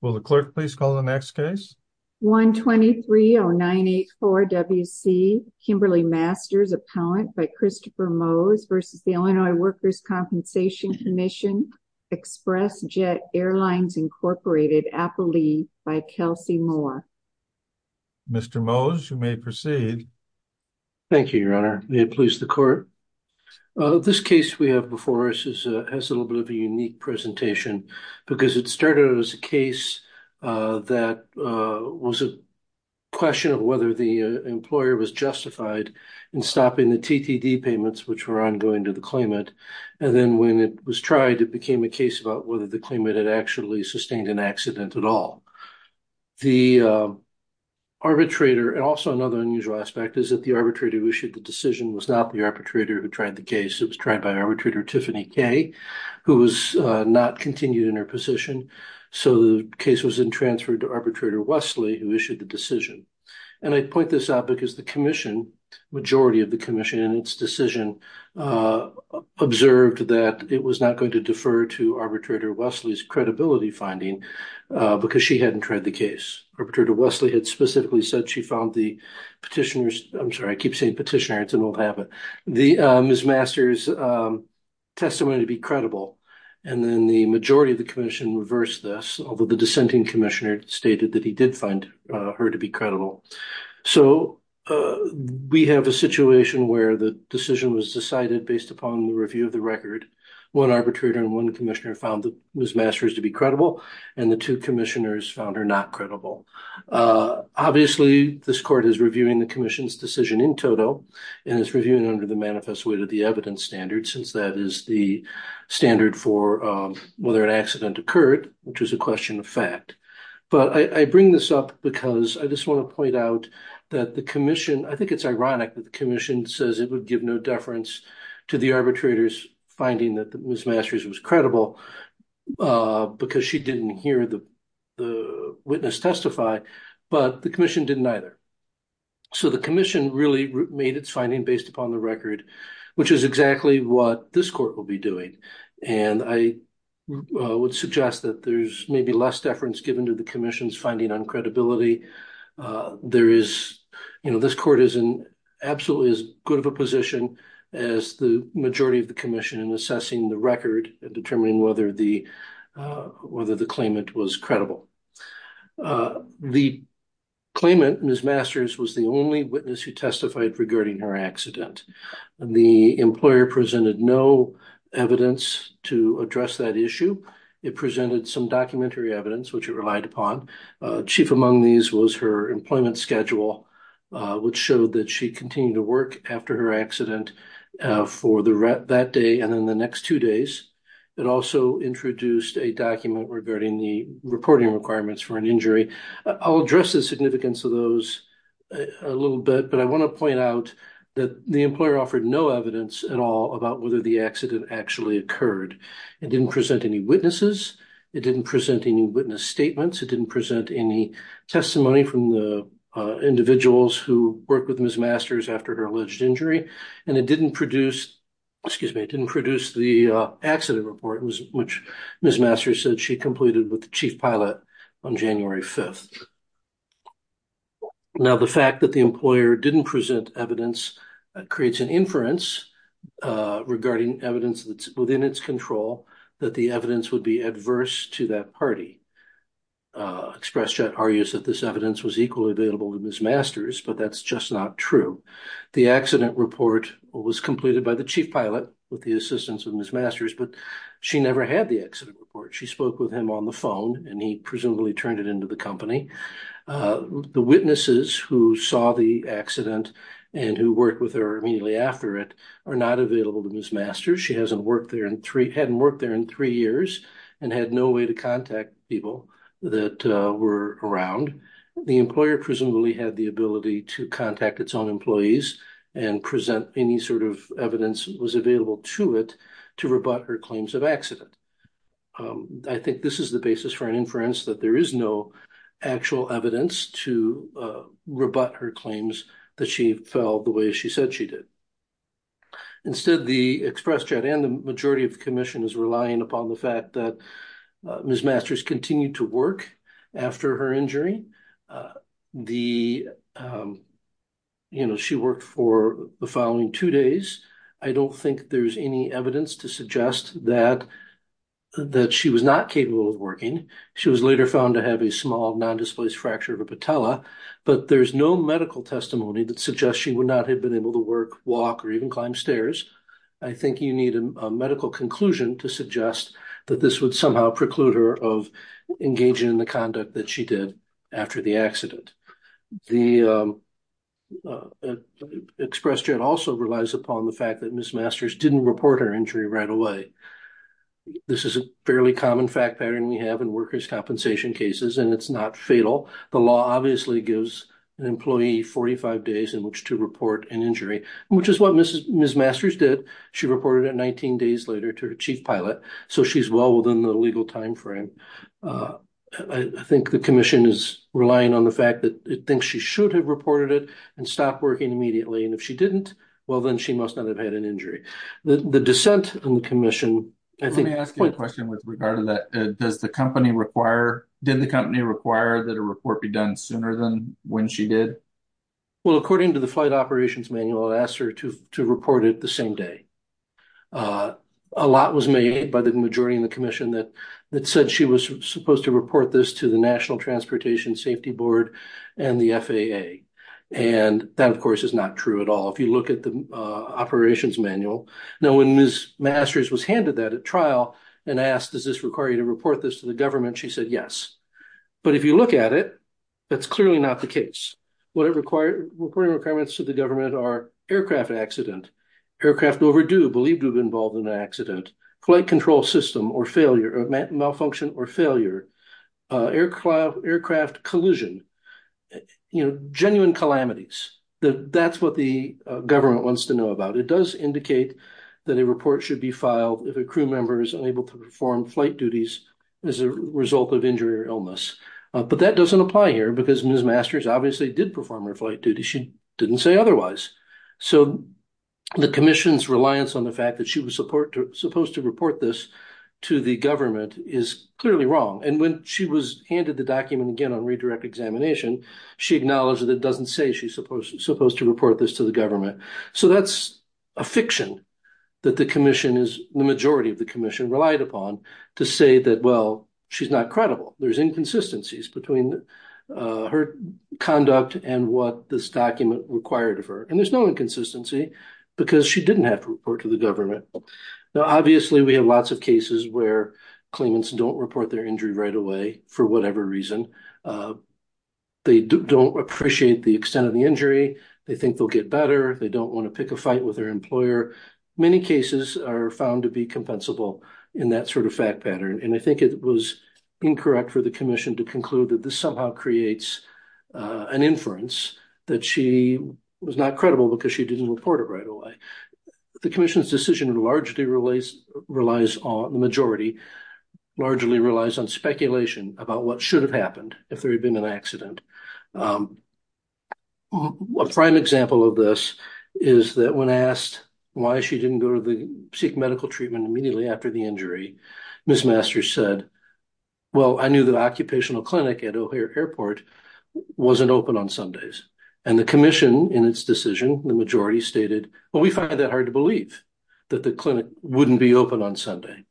Will the clerk please call the next case? 123-0984-WC, Kimberly Masters, appellant by Christopher Mose versus the Illinois Workers' Compensation Commission, Express Jet Airlines Incorporated, Appleby, by Kelsey Moore. Mr. Mose, you may proceed. Thank you, Your Honor. May it please the court? This case we have before us has a little bit of a unique presentation because it started as a case that was a question of whether the employer was justified in stopping the TTD payments, which were ongoing to the claimant. And then when it was tried, it became a case about whether the claimant had actually sustained an accident at all. The arbitrator, and also another unusual aspect, is that the arbitrator who issued the decision was not the arbitrator who tried the case. It was tried by Arbitrator Tiffany Kay, who was not continued in her position. So the case was then transferred to Arbitrator Wesley, who issued the decision. And I point this out because the commission, majority of the commission in its decision, observed that it was not going to defer to Arbitrator Wesley's credibility finding because she hadn't tried the case. Arbitrator Wesley had specifically said she found the petitioner's, I'm sorry, I keep saying petitioner, it's an old habit, Ms. Masters' testimony to be credible. And then the majority of the commission reversed this, although the dissenting commissioner stated that he did find her to be credible. So we have a situation where the decision was decided based upon the review of the record. One arbitrator and one commissioner found Ms. Masters to be credible, and the two commissioners found her not credible. Obviously, this court is reviewing the commission's decision in total, and it's under the manifest way to the evidence standard, since that is the standard for whether an accident occurred, which is a question of fact. But I bring this up because I just want to point out that the commission, I think it's ironic that the commission says it would give no deference to the arbitrator's finding that Ms. Masters was credible, because she didn't hear the witness testify, but the commission didn't either. So the commission really made its finding based upon the record, which is exactly what this court will be doing. And I would suggest that there's maybe less deference given to the commission's finding on credibility. There is, you know, this court is in absolutely as good of a position as the majority of the commission in assessing the record and determining whether the claimant was credible. The claimant, Ms. Masters, was the only witness who testified regarding her accident. The employer presented no evidence to address that issue. It presented some documentary evidence, which it relied upon. Chief among these was her employment schedule, which showed that she continued to work after her accident for that day and then the next two days. It also introduced a document regarding the reporting requirements for an injury. I'll address the significance of those a little bit, but I want to point out that the employer offered no evidence at all about whether the accident actually occurred. It didn't present any witnesses. It didn't present any witness statements. It didn't present any testimony from the individuals who worked with Ms. Masters after her alleged injury. And it didn't produce, excuse me, it didn't produce the accident report, which Ms. Masters said she completed with the chief pilot on January 5th. Now, the fact that the employer didn't present evidence creates an inference regarding evidence that's within its control that the evidence would be adverse to that party. ExpressJet argues that this evidence was equally available to Ms. Masters, but that's just not true. The accident report was completed by the chief pilot with the assistance of Ms. Masters, but she never had the accident report. She spoke with him on the phone and he presumably turned it into the company. The witnesses who saw the accident and who worked with her immediately after it are not available to Ms. Masters. She hasn't worked there in three, hadn't worked there in three years and had no way to contact people that were around. The employer presumably had the ability to contact its own employees and present any sort of evidence was available to it to rebut her claims of accident. I think this is the basis for an inference that there is no actual evidence to rebut her claims that she fell the way she said she did. Instead, the ExpressJet and the majority of the commission is relying upon the fact that Ms. Masters continued to work after her injury. She worked for the following two days. I don't think there's any evidence to suggest that she was not capable of working. She was later found to have a small non-displaced fracture of a patella, but there's no medical testimony that suggests she would not have been able to work, walk or even climb stairs. I think you need a medical conclusion to suggest that this would somehow preclude her of engaging in the conduct that she did after the accident. The ExpressJet also relies upon the fact that Ms. Masters didn't report her injury right away. This is a fairly common fact pattern we have in workers' compensation cases and it's not fatal. The law obviously gives an employee 45 days in which to report an injury, which is what Ms. Masters did. She reported it 19 days later to her chief pilot, so she's well within the legal time frame. I think the commission is relying on the fact that it thinks she should have reported it and stopped working immediately, and if she didn't, well, then she must not have had an injury. The dissent in the commission, I think... Let me ask you a question with regard to that. Did the company require that a report be done sooner than when she did? Well, according to the flight operations manual, it asked her to report it the same day. A lot was made by the majority in the commission that said she was supposed to report this to the National Transportation Safety Board and the FAA, and that, of course, is not true at all. If you look at the operations manual, when Ms. Masters was handed that at trial and asked, does this require you to report this to the government, she said yes. But if you look at it, that's clearly not the case. What it required, reporting requirements to the government are aircraft accident, aircraft overdue, believed to have been involved in an accident, flight control system or failure, malfunction or failure, aircraft collision, you know, genuine calamities. That's what the government wants to know about. It does indicate that a report should be filed if a crew member is unable to perform flight duties as a result of injury or illness. But that doesn't apply here because Ms. Masters obviously did perform her flight duties. She didn't say otherwise. So the commission's reliance on the fact that she was supposed to report this to the government is clearly wrong. And when she was handed the document again on redirect examination, she acknowledged that it doesn't say she's supposed to report this to the government. So that's a fiction that the commission is, the majority of the commission relied upon to say that, well, she's not credible. There's inconsistencies between her conduct and what this document required of her. And there's no inconsistency because she didn't have to report to the government. Now, obviously, we have lots of cases where claimants don't report their injury right away for whatever reason. They don't appreciate the extent of the injury. They think they'll get better. They don't want to pick a compensable in that sort of fact pattern. And I think it was incorrect for the commission to conclude that this somehow creates an inference that she was not credible because she didn't report it right away. The commission's decision largely relies on the majority, largely relies on speculation about what should have happened if there had been an accident. A prime example of this is that when asked why she didn't go to seek medical treatment immediately after the injury, Ms. Masters said, well, I knew the occupational clinic at O'Hare Airport wasn't open on Sundays. And the commission in its decision, the majority stated, well, we find that hard to believe that the clinic wouldn't be open on Sunday.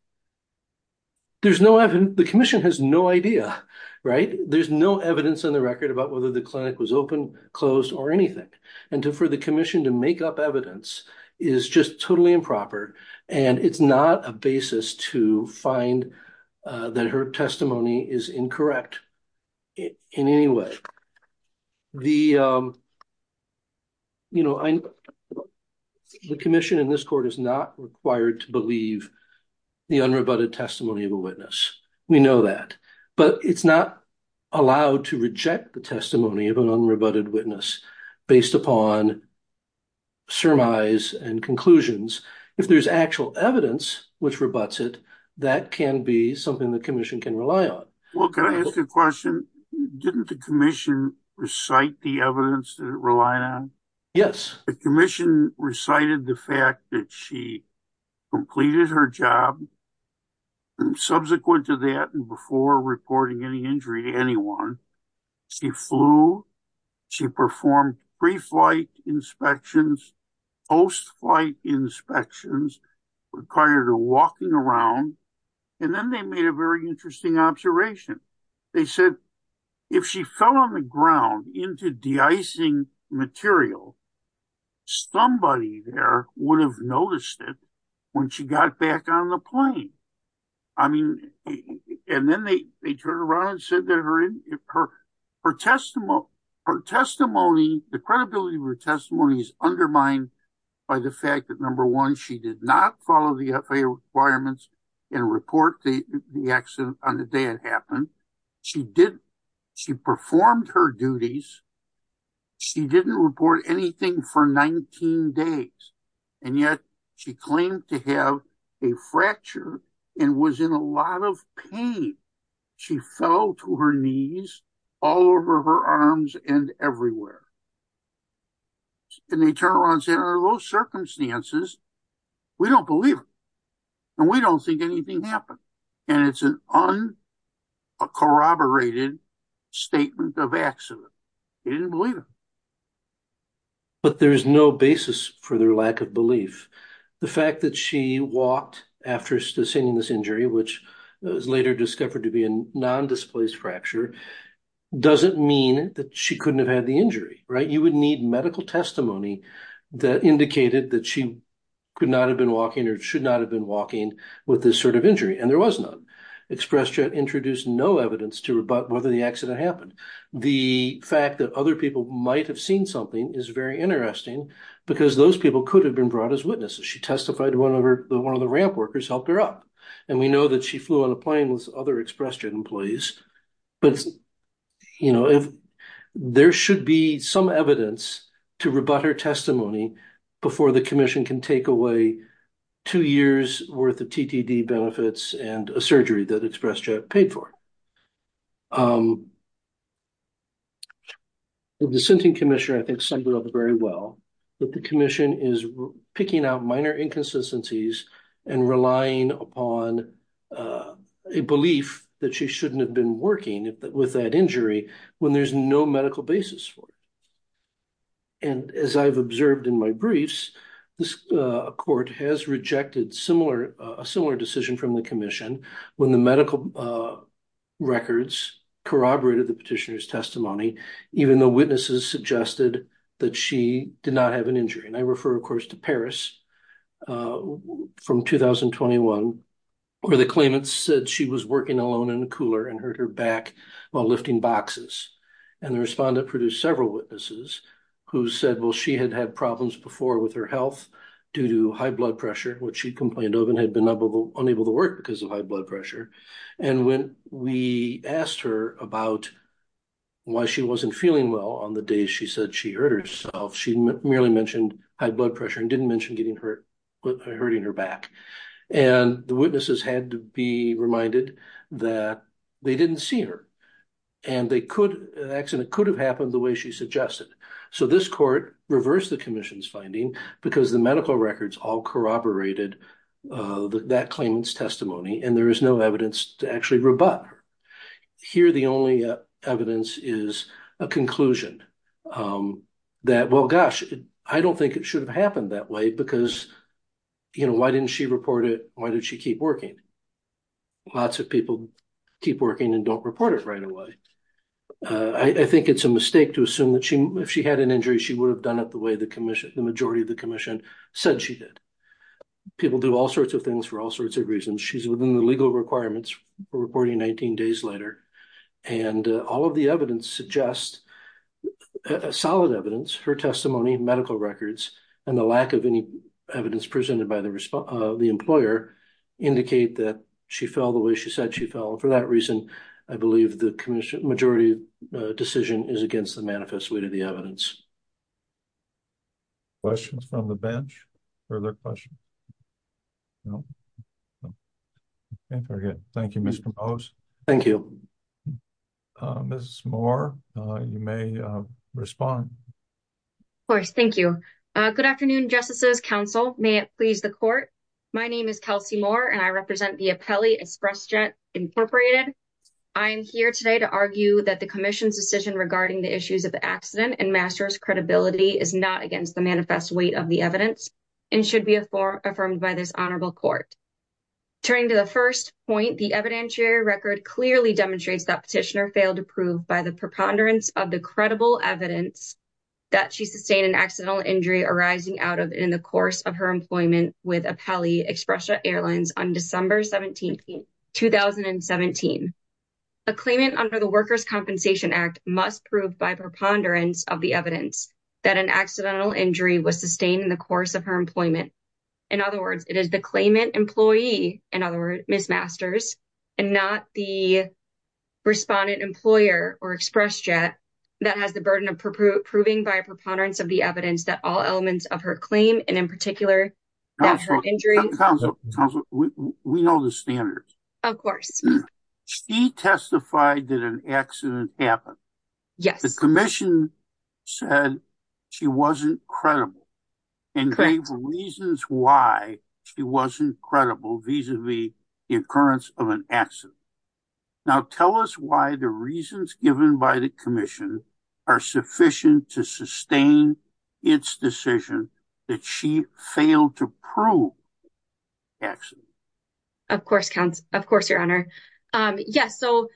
There's no evidence. The commission has no idea, right? There's no evidence on the record about whether the clinic was open, closed, or anything. And for the commission to make up evidence is just totally improper. And it's not a basis to find that her testimony is incorrect in any way. The commission in this court is not required to believe the unrebutted testimony of a witness. We know that. But it's not allowed to reject the testimony of an unrebutted witness based upon surmise and conclusions. If there's actual evidence which rebutts it, that can be something the commission can rely on. Well, can I ask a question? Didn't the commission recite the evidence that it relied on? Yes. The commission recited the fact that she completed her job. And subsequent to that, and before reporting any injury to anyone, she flew, she performed pre-flight inspections, post-flight inspections, required a walking around. And then they made a very interesting observation. They said, if she fell on the ground into de-icing material, somebody there would have noticed it when she got back on the plane. I mean, and then they turned around and her testimony, the credibility of her testimony is undermined by the fact that, number one, she did not follow the FAA requirements and report the accident on the day it happened. She performed her duties. She didn't report anything for 19 days. And yet, she claimed to have a fracture and was in a lot of pain. She fell to her knees all over her arms and everywhere. And they turned around and said, under those circumstances, we don't believe it. And we don't think anything happened. And it's an uncorroborated statement of accident. They didn't believe it. But there's no basis for their lack of belief. The fact that she walked after sustaining this injury, which was later discovered to be a non-displaced fracture, doesn't mean that she couldn't have had the injury, right? You would need medical testimony that indicated that she could not have been walking or should not have been walking with this sort of injury. And there was none. ExpressJet introduced no evidence to rebut whether the accident happened. The fact that other people might have seen something is very interesting because those people could have been brought as witnesses. She testified that one of the ramp workers helped her up. And we know that she flew on a plane with other ExpressJet employees. But there should be some evidence to rebut her testimony before the commission can take away two years worth of TTD benefits and a surgery that ExpressJet paid for. The dissenting commissioner, I think, summed it up very well, that the commission is picking out minor inconsistencies and relying upon a belief that she shouldn't have been working with that injury when there's no medical basis for it. And as I've observed in my briefs, this court has rejected a similar decision from the commission when the medical records corroborated the petitioner's testimony, even though witnesses suggested that she did not have an injury. And I refer, of course, to Paris from 2021, where the claimants said she was working alone in a cooler and hurt her back while lifting boxes. And the respondent produced several witnesses who said, well, she had had problems before with her health due to high blood pressure, which she complained of and had been unable to work because of high blood pressure. And when we asked her about why she wasn't feeling well on the day she said she hurt herself, she merely mentioned high blood pressure and didn't mention hurting her back. And the witnesses had to be reminded that they didn't see her and an accident could have happened the way she suggested. So this court reversed the commission's corroborated that claimant's testimony, and there is no evidence to actually rebut her. Here, the only evidence is a conclusion that, well, gosh, I don't think it should have happened that way because, you know, why didn't she report it? Why did she keep working? Lots of people keep working and don't report it right away. I think it's a mistake to assume that if she had an injury, she would have done it the way the majority of the commission said she did. People do all sorts of things for all sorts of reasons. She's within the legal requirements reporting 19 days later. And all of the evidence suggests solid evidence, her testimony, medical records, and the lack of any evidence presented by the employer indicate that she fell the way she said she fell. And for that reason, I believe the majority decision is against the evidence. Questions from the bench? Further questions? No? Can't forget. Thank you, Mr. Mose. Thank you. Mrs. Moore, you may respond. Of course. Thank you. Good afternoon, justices, counsel. May it please the court? My name is Kelsey Moore, and I represent the Apelli Express Jet Incorporated. I'm here today to argue that the commission's decision regarding the issues of the accident and master's credibility is not against the manifest weight of the evidence and should be a form affirmed by this honorable court. Turning to the first point, the evidentiary record clearly demonstrates that petitioner failed to prove by the preponderance of the credible evidence that she sustained an accidental injury arising out of in the course of her employment with Apelli Express Jet Airlines on December 17, 2017. A claimant under the Workers' Compensation Act must prove by preponderance of the evidence that an accidental injury was sustained in the course of her employment. In other words, it is the claimant employee, in other words, Ms. Masters, and not the respondent employer or Express Jet that has the burden of proving by preponderance of the standard. Of course. She testified that an accident happened. Yes. The commission said she wasn't credible and gave reasons why she wasn't credible vis-a-vis the occurrence of an accident. Now tell us why the reasons given by the commission are sufficient to sustain its decision that she failed to prove accident? Of course, your honor. Yes. So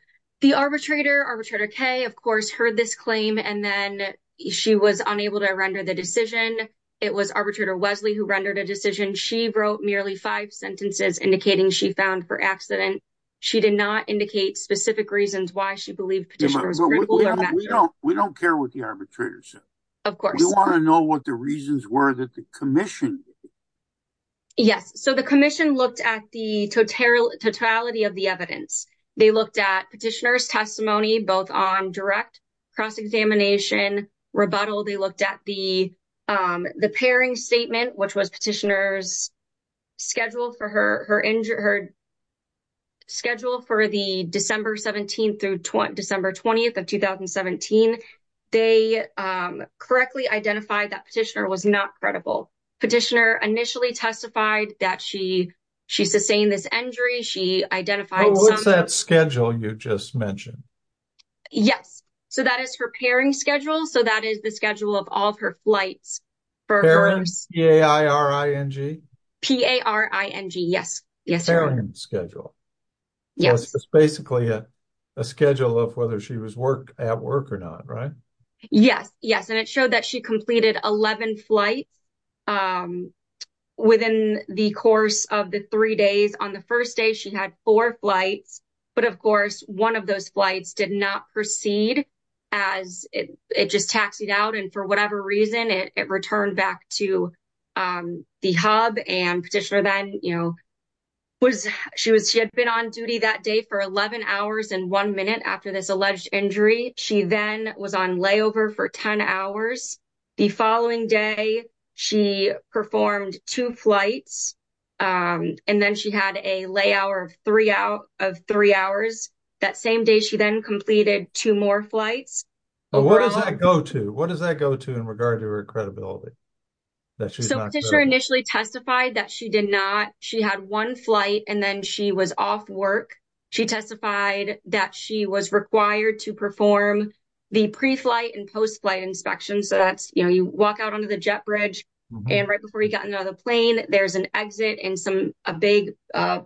the arbitrator, Arbitrator Kaye, of course, heard this claim and then she was unable to render the decision. It was Arbitrator Wesley who rendered a decision. She wrote merely five sentences indicating she found for accident. She did not indicate specific reasons why she believed petitioner was credible. We don't care what the arbitrator said. Of course. We want to know what the reasons were that the commission did. Yes. So the commission looked at the totality of the evidence. They looked at petitioner's testimony, both on direct cross-examination, rebuttal. They looked at the pairing statement, which was petitioner's schedule for the December 17th to December 20th of 2017. They correctly identified that petitioner was not credible. Petitioner initially testified that she sustained this injury. She identified- Oh, what's that schedule you just mentioned? Yes. So that is her pairing schedule. So that is the schedule of all of her flights. Pairing, P-A-I-R-I-N-G? P-A-R-I-N-G, yes. Pairing schedule. Yes. So it's basically a schedule of whether she was at work or not, right? Yes. Yes. And it showed that she completed 11 flights within the course of the three days. On the first day, she had four flights. But of course, one of those flights did not proceed as it just taxied out. And for whatever reason, it returned back to the hub. And petitioner then, you know, she had been on duty that day for 11 hours and one minute after this alleged injury. She then was on layover for 10 hours. The following day, she performed two flights. And then she had a layover of three hours. That same day, she then completed two more flights. What does that go to? What does that go to in regard to her credibility? The petitioner initially testified that she did not. She had one flight and then she was off work. She testified that she was required to perform the pre-flight and post-flight inspection. So that's, you know, you walk out onto the jet bridge. And right before you got into the plane, there's an exit and some big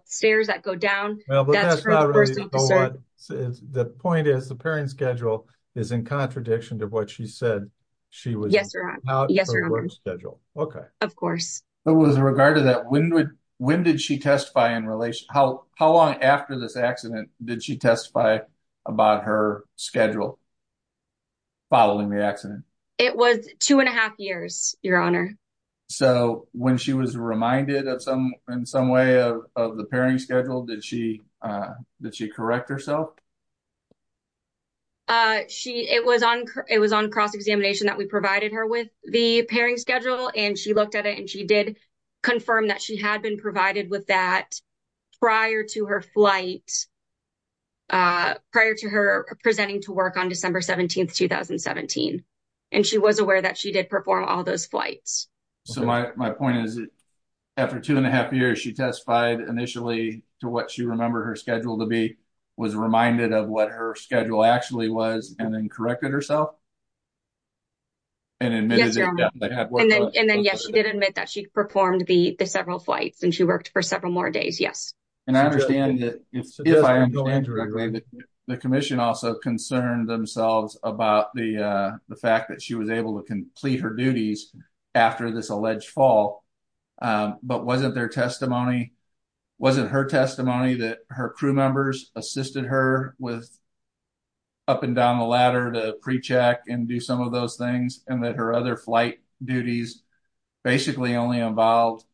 stairs that go down. The point is the pairing schedule is in contradiction to what she said she was required to schedule. Of course. But with regard to that, when did she testify in relation? How long after this accident did she testify about her schedule following the accident? It was two and a half years, Your Honor. So when she was reminded of some, in some way of the pairing schedule, did she correct herself? Uh, she, it was on, it was on cross-examination that we provided her with the pairing schedule and she looked at it and she did confirm that she had been provided with that prior to her flight, uh, prior to her presenting to work on December 17th, 2017. And she was aware that she did perform all those flights. So my point is after two and a half years, she testified initially to what she remembered her to be, was reminded of what her schedule actually was, and then corrected herself. And then, yes, she did admit that she performed the, the several flights and she worked for several more days. Yes. And I understand that the commission also concerned themselves about the, uh, the fact that she was able to complete her duties after this alleged fall. Um, but wasn't there testimony, wasn't her testimony that her crew members assisted her with up and down the ladder to pre-check and do some of those things and that her other flight duties basically only involved,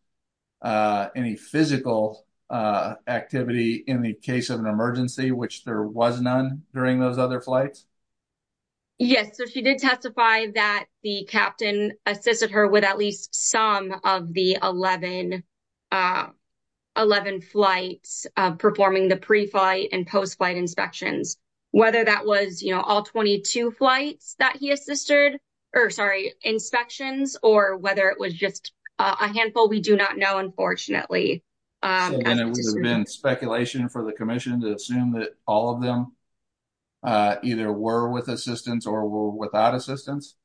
uh, any physical, uh, activity in the case of an emergency, which there was none during those other flights? Yes. So she did testify that the captain assisted her with at least some of the 11, uh, 11 flights, uh, performing the pre-flight and post-flight inspections, whether that was, you know, all 22 flights that he assisted or sorry, inspections, or whether it was just a handful, we do not know, unfortunately. And it would have been speculation for the commission to assume that all of them, uh, either were with assistance or were without assistance.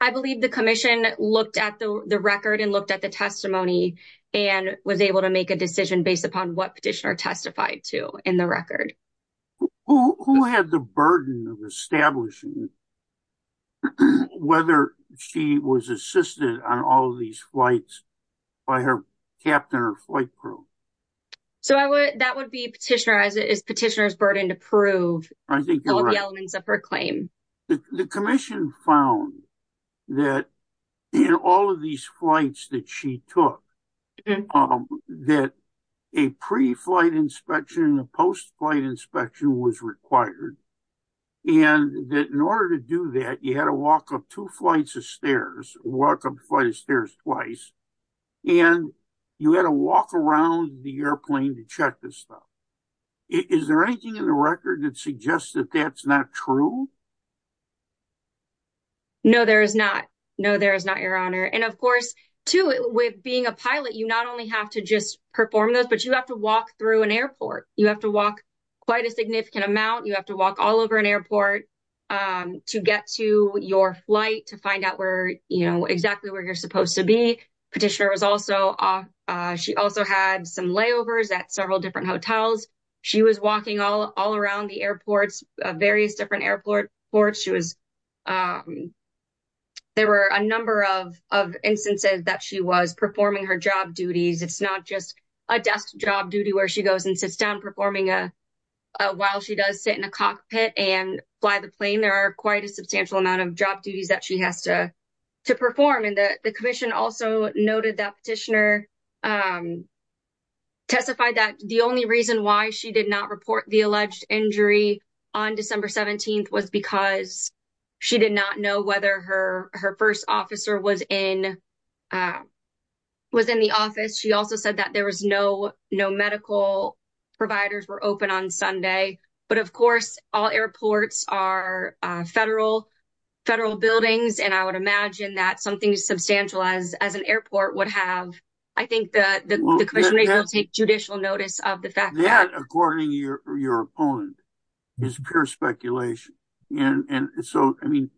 I believe the commission looked at the record and looked at the testimony and was able to make a decision based upon what petitioner testified to in the record. Who had the burden of establishing whether she was assisted on all of these flights by her captain or flight crew? So I would, that would be petitioner, as it is petitioner's burden to prove all of the elements of her claim. The commission found that in all of these flights that she took, that a pre-flight inspection and a post-flight inspection was required. And that in order to do that, you had to walk up two flights of stairs, walk up flight of stairs twice, and you had to walk around the airplane to check this stuff. Is there anything in the record that suggests that that's not true? No, there is not. No, there is not, Your Honor. And of course, too, with being a pilot, you not only have to just perform those, but you have to walk through an airport. You have to walk quite a significant amount. You have to walk all over an airport to get to your flight to find out where, you know, exactly where you're supposed to be. Petitioner was also, she also had some layovers at several different hotels. She was walking all around the airports, various different airports. There were a number of instances that she was performing her job duties. It's not just a desk job duty where she goes and fly the plane. There are quite a substantial amount of job duties that she has to perform. And the commission also noted that petitioner testified that the only reason why she did not report the alleged injury on December 17th was because she did not know whether her first officer was in the office. She also said that there was no medical providers were open on Sunday. But of course, all airports are federal buildings. And I would imagine that something as substantial as an airport would have. I think that the commission will take judicial notice of the fact that. That, according to your opponent, is pure speculation. And so, I mean,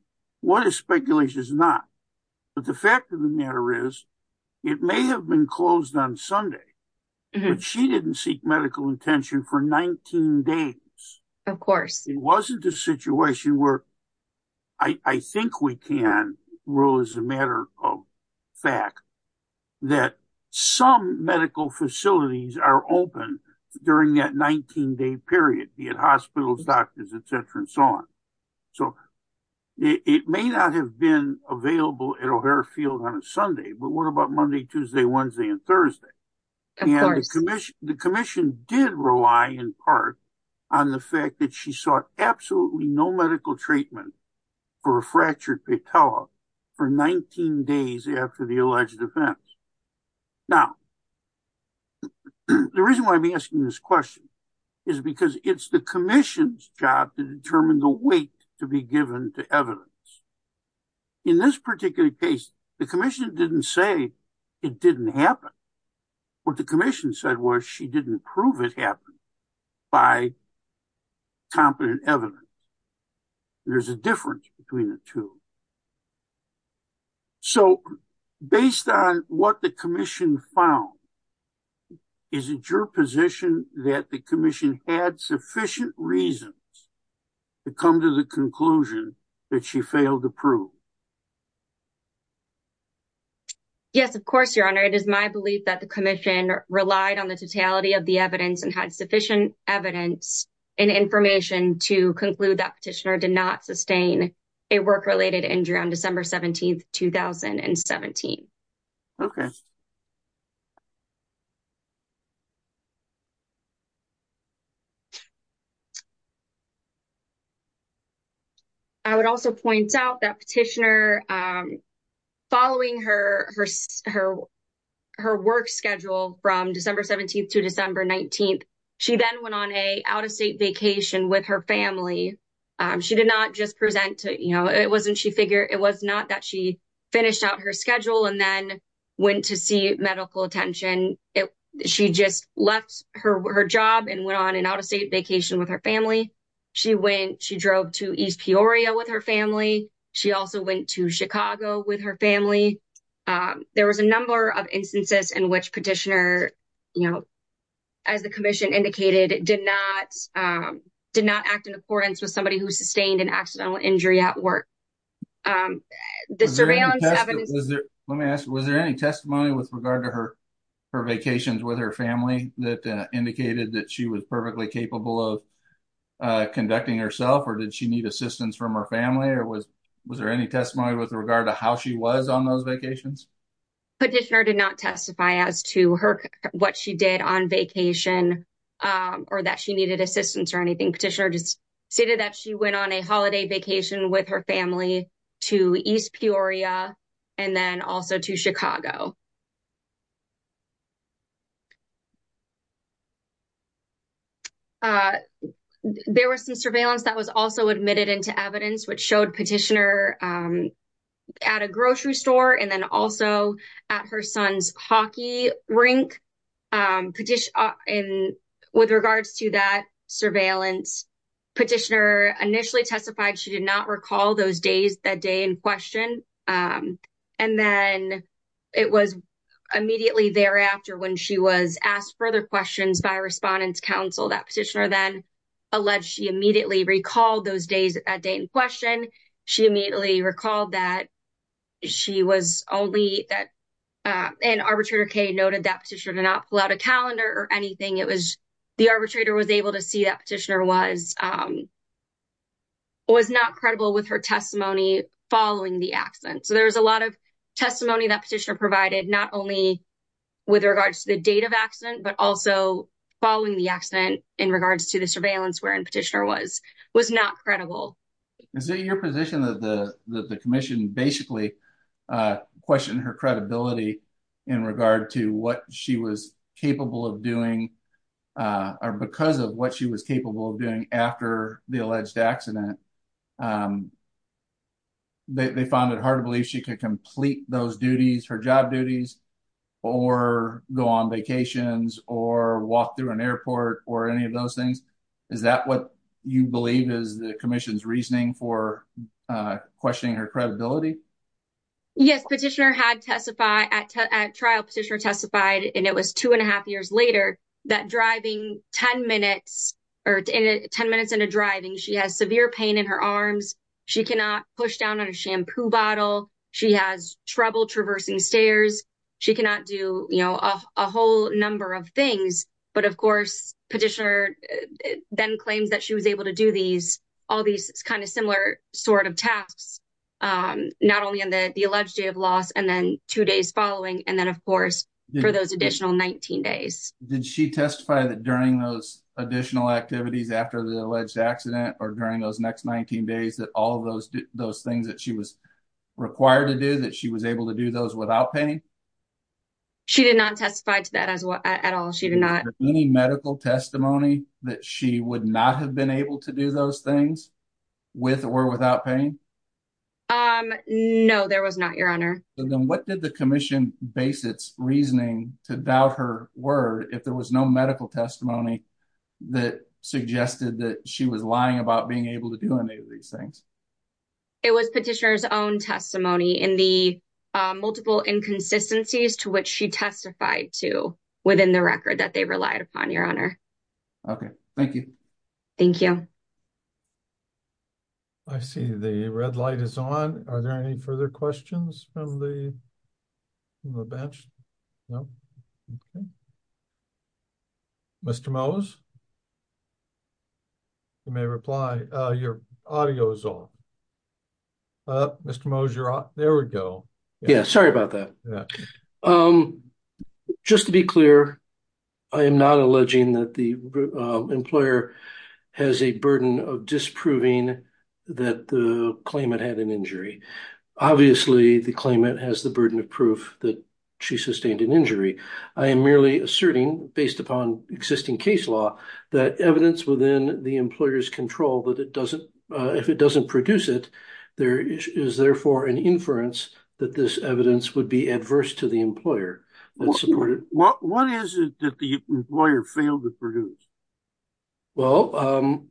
what is speculation is not. But the fact of the matter is, it may have been closed on Sunday, but she didn't seek medical attention for 19 days. It wasn't a situation where I think we can rule as a matter of fact that some medical facilities are open during that 19 day period, be it hospitals, doctors, et cetera, and so on. So, it may not have been available at O'Hare and the commission did rely in part on the fact that she sought absolutely no medical treatment for a fractured patella for 19 days after the alleged offense. Now, the reason why I'm asking this question is because it's the commission's job to determine the weight to be given to evidence. In this particular case, the commission didn't say it didn't happen. What the commission said was she didn't prove it happened by competent evidence. There's a difference between the two. So, based on what the commission found, is it your position that the commission had sufficient reasons to come to the conclusion that she failed to prove? Yes, of course, your honor. It is my belief that the commission relied on the totality of the evidence and had sufficient evidence and information to conclude that petitioner did not sustain a work-related injury on December 17, 2017. Okay. I would also point out that petitioner, following her work schedule from December 17 to December 19, she then went on an out-of-state vacation with her family. She did not just present to, it wasn't she figured, it was not that she finished out her schedule and then went to see medical attention. She just left her job and went on an out-of-state vacation with her family. She went, she drove to East Peoria with her family. She also went to Chicago with her family. There was a number of instances in which petitioner, as the commission indicated, did not act in accordance with somebody who sustained an accidental injury at work. Let me ask, was there any testimony with regard to her vacations with her family that indicated that she was perfectly capable of conducting herself or did she need assistance from her family or was there any testimony with regard to how she was on those vacations? Petitioner did not testify as to her, what she did on vacation or that she needed assistance or anything. Petitioner just stated that she went on a holiday vacation with her family to East Peoria and then also to Chicago. There was some surveillance that was also admitted into evidence which showed petitioner at a grocery store and then also at her son's hockey rink. With regards to that surveillance, petitioner initially testified she did not recall those days, that day in question. And then it was immediately thereafter when she was asked further questions by a respondent's counsel that petitioner then alleged she immediately recalled those days, that day in She immediately recalled that she was only that, and arbitrator Kay noted that petitioner did not pull out a calendar or anything. It was, the arbitrator was able to see that petitioner was, was not credible with her testimony following the accident. So there was a lot of testimony that petitioner provided not only with regards to the date of accident but also following the accident in regards to the surveillance wherein petitioner was, was not credible. Is it your position that the, that the commission basically questioned her credibility in regard to what she was capable of doing, or because of what she was capable of doing after the alleged accident? They found it hard to believe she could complete those duties, her job duties, or go on vacations, or walk through an airport, or any of those things? Is that what you believe is the commission's reasoning for questioning her credibility? Yes, petitioner had testified at trial, petitioner testified, and it was two and a half years later, that driving 10 minutes, or 10 minutes into driving, she has severe pain in her arms, she cannot push down on a shampoo bottle, she has trouble traversing stairs, she cannot do, you know, a whole number of things. But of course, petitioner then claims that she was able to do all these kind of similar sort of tasks, not only on the alleged day of loss, and then two days following, and then of course, for those additional 19 days. Did she testify that during those additional activities after the alleged accident, or during those next 19 days, that all those things that she was required to do, that she was able to do those without pain? She did not testify to that as well, at all, any medical testimony that she would not have been able to do those things with or without pain? Um, no, there was not, Your Honor. Then what did the commission basis reasoning to doubt her word if there was no medical testimony that suggested that she was lying about being able to do any of these things? It was petitioners own testimony in the multiple inconsistencies to which she testified to within the record that they relied upon, Your Honor. Okay, thank you. Thank you. I see the red light is on. Are there any further questions from the bench? No. Mr. Mose, you may reply. Your audio is off. Mr. Mose, you're off. There we go. Yeah, sorry about that. Just to be clear, I am not alleging that the employer has a burden of disproving that the claimant had an injury. Obviously, the claimant has the burden of proof that she sustained an injury. I am merely asserting, based upon existing case law, that evidence within the employer's control that it doesn't, if it doesn't produce it, there is therefore an inference that this evidence would be adverse to the employer. What is it that the employer failed to produce? Well,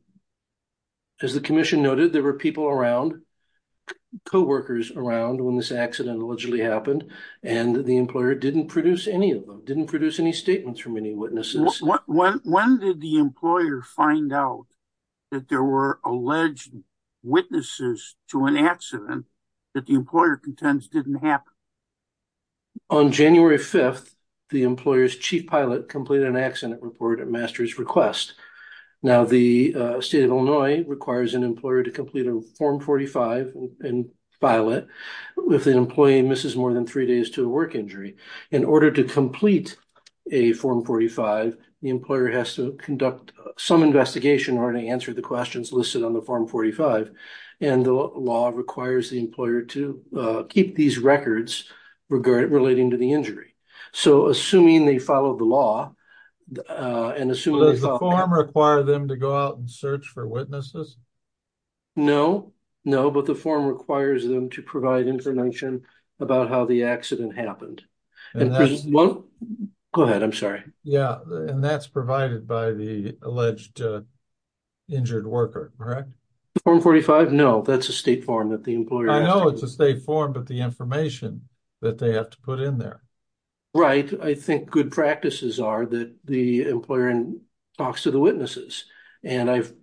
as the commission noted, there were people around, co-workers around when this accident allegedly happened, and the employer didn't produce any of them, didn't produce any statements from any witnesses. When did the employer find out that there were alleged witnesses to an accident that the employer contends didn't happen? On January 5th, the employer's chief pilot completed an accident report at master's request. Now, the state of Illinois requires an employer to complete a Form 45 pilot if the employee misses more than three days to a work injury. In order to complete a Form 45, the employer has to conduct some investigation in order to answer the questions listed on the Form 45, and the law requires the employer to keep these records regarding, relating to the injury. So, assuming they follow the law, and assuming... Does the form require them to go out and search for witnesses? No, no, but the form requires them to provide information about how the accident happened. Go ahead, I'm sorry. Yeah, and that's provided by the alleged injured worker, correct? Form 45? No, that's a state form that the employer... I know it's a state form, but the information that they have to put in there. Right, I think good practices are that the employer talks to the witnesses, and I've...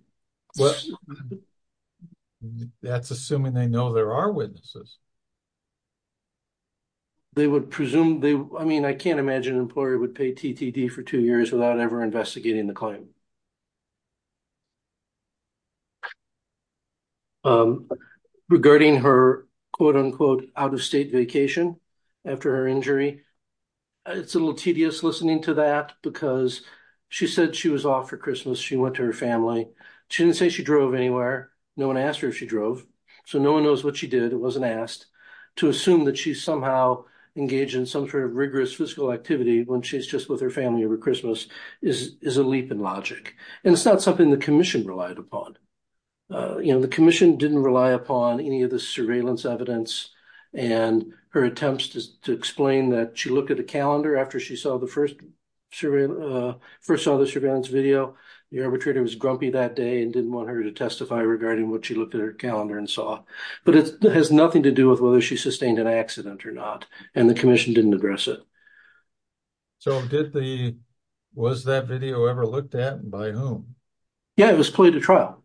That's assuming they know there are witnesses. They would presume they... I mean, I can't imagine an employer would pay TTD for two years without ever investigating the claim. Regarding her, quote, unquote, out-of-state vacation after her injury, it's a little tedious listening to that, because she said she was off for Christmas, she went to her family. She didn't say she drove anywhere. No one asked her if she drove, so no one knows what she did. It wasn't asked. To assume that she somehow engaged in some sort of rigorous physical activity when she's just with her family over Christmas is a leap in logic. And it's not something the commission relied upon. You know, the commission didn't rely upon any of the surveillance evidence, and her attempts to explain that she looked at a calendar after she saw the first surveillance video, the arbitrator was grumpy that day and didn't want her to testify regarding what she looked at her calendar and saw. But it has nothing to do with whether she sustained an accident or not, and the commission didn't address it. So did the... Was that video ever looked at, and by whom? Yeah, it was played at trial.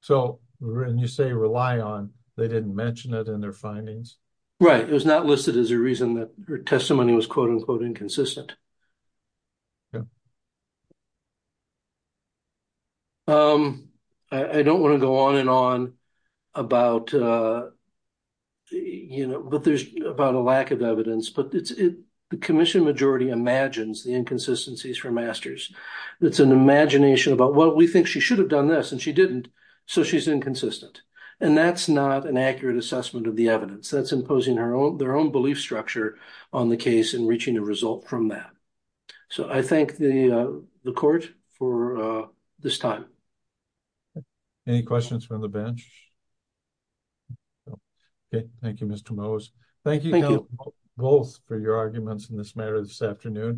So when you say rely on, they didn't mention it in their findings? Right. It was not listed as a reason that her testimony was, quote, unquote, inconsistent. I don't want to go on and on about, you know, but there's about a lack of evidence. But the commission majority imagines the inconsistencies for masters. It's an imagination about, well, we think she should have done this, and she didn't, so she's inconsistent. And that's not an accurate assessment of the evidence. That's imposing their own belief structure on the case and reaching a result from that. So I thank the court for this time. Any questions from the bench? Thank you, Mr. Moos. Thank you both for your arguments in this matter this afternoon.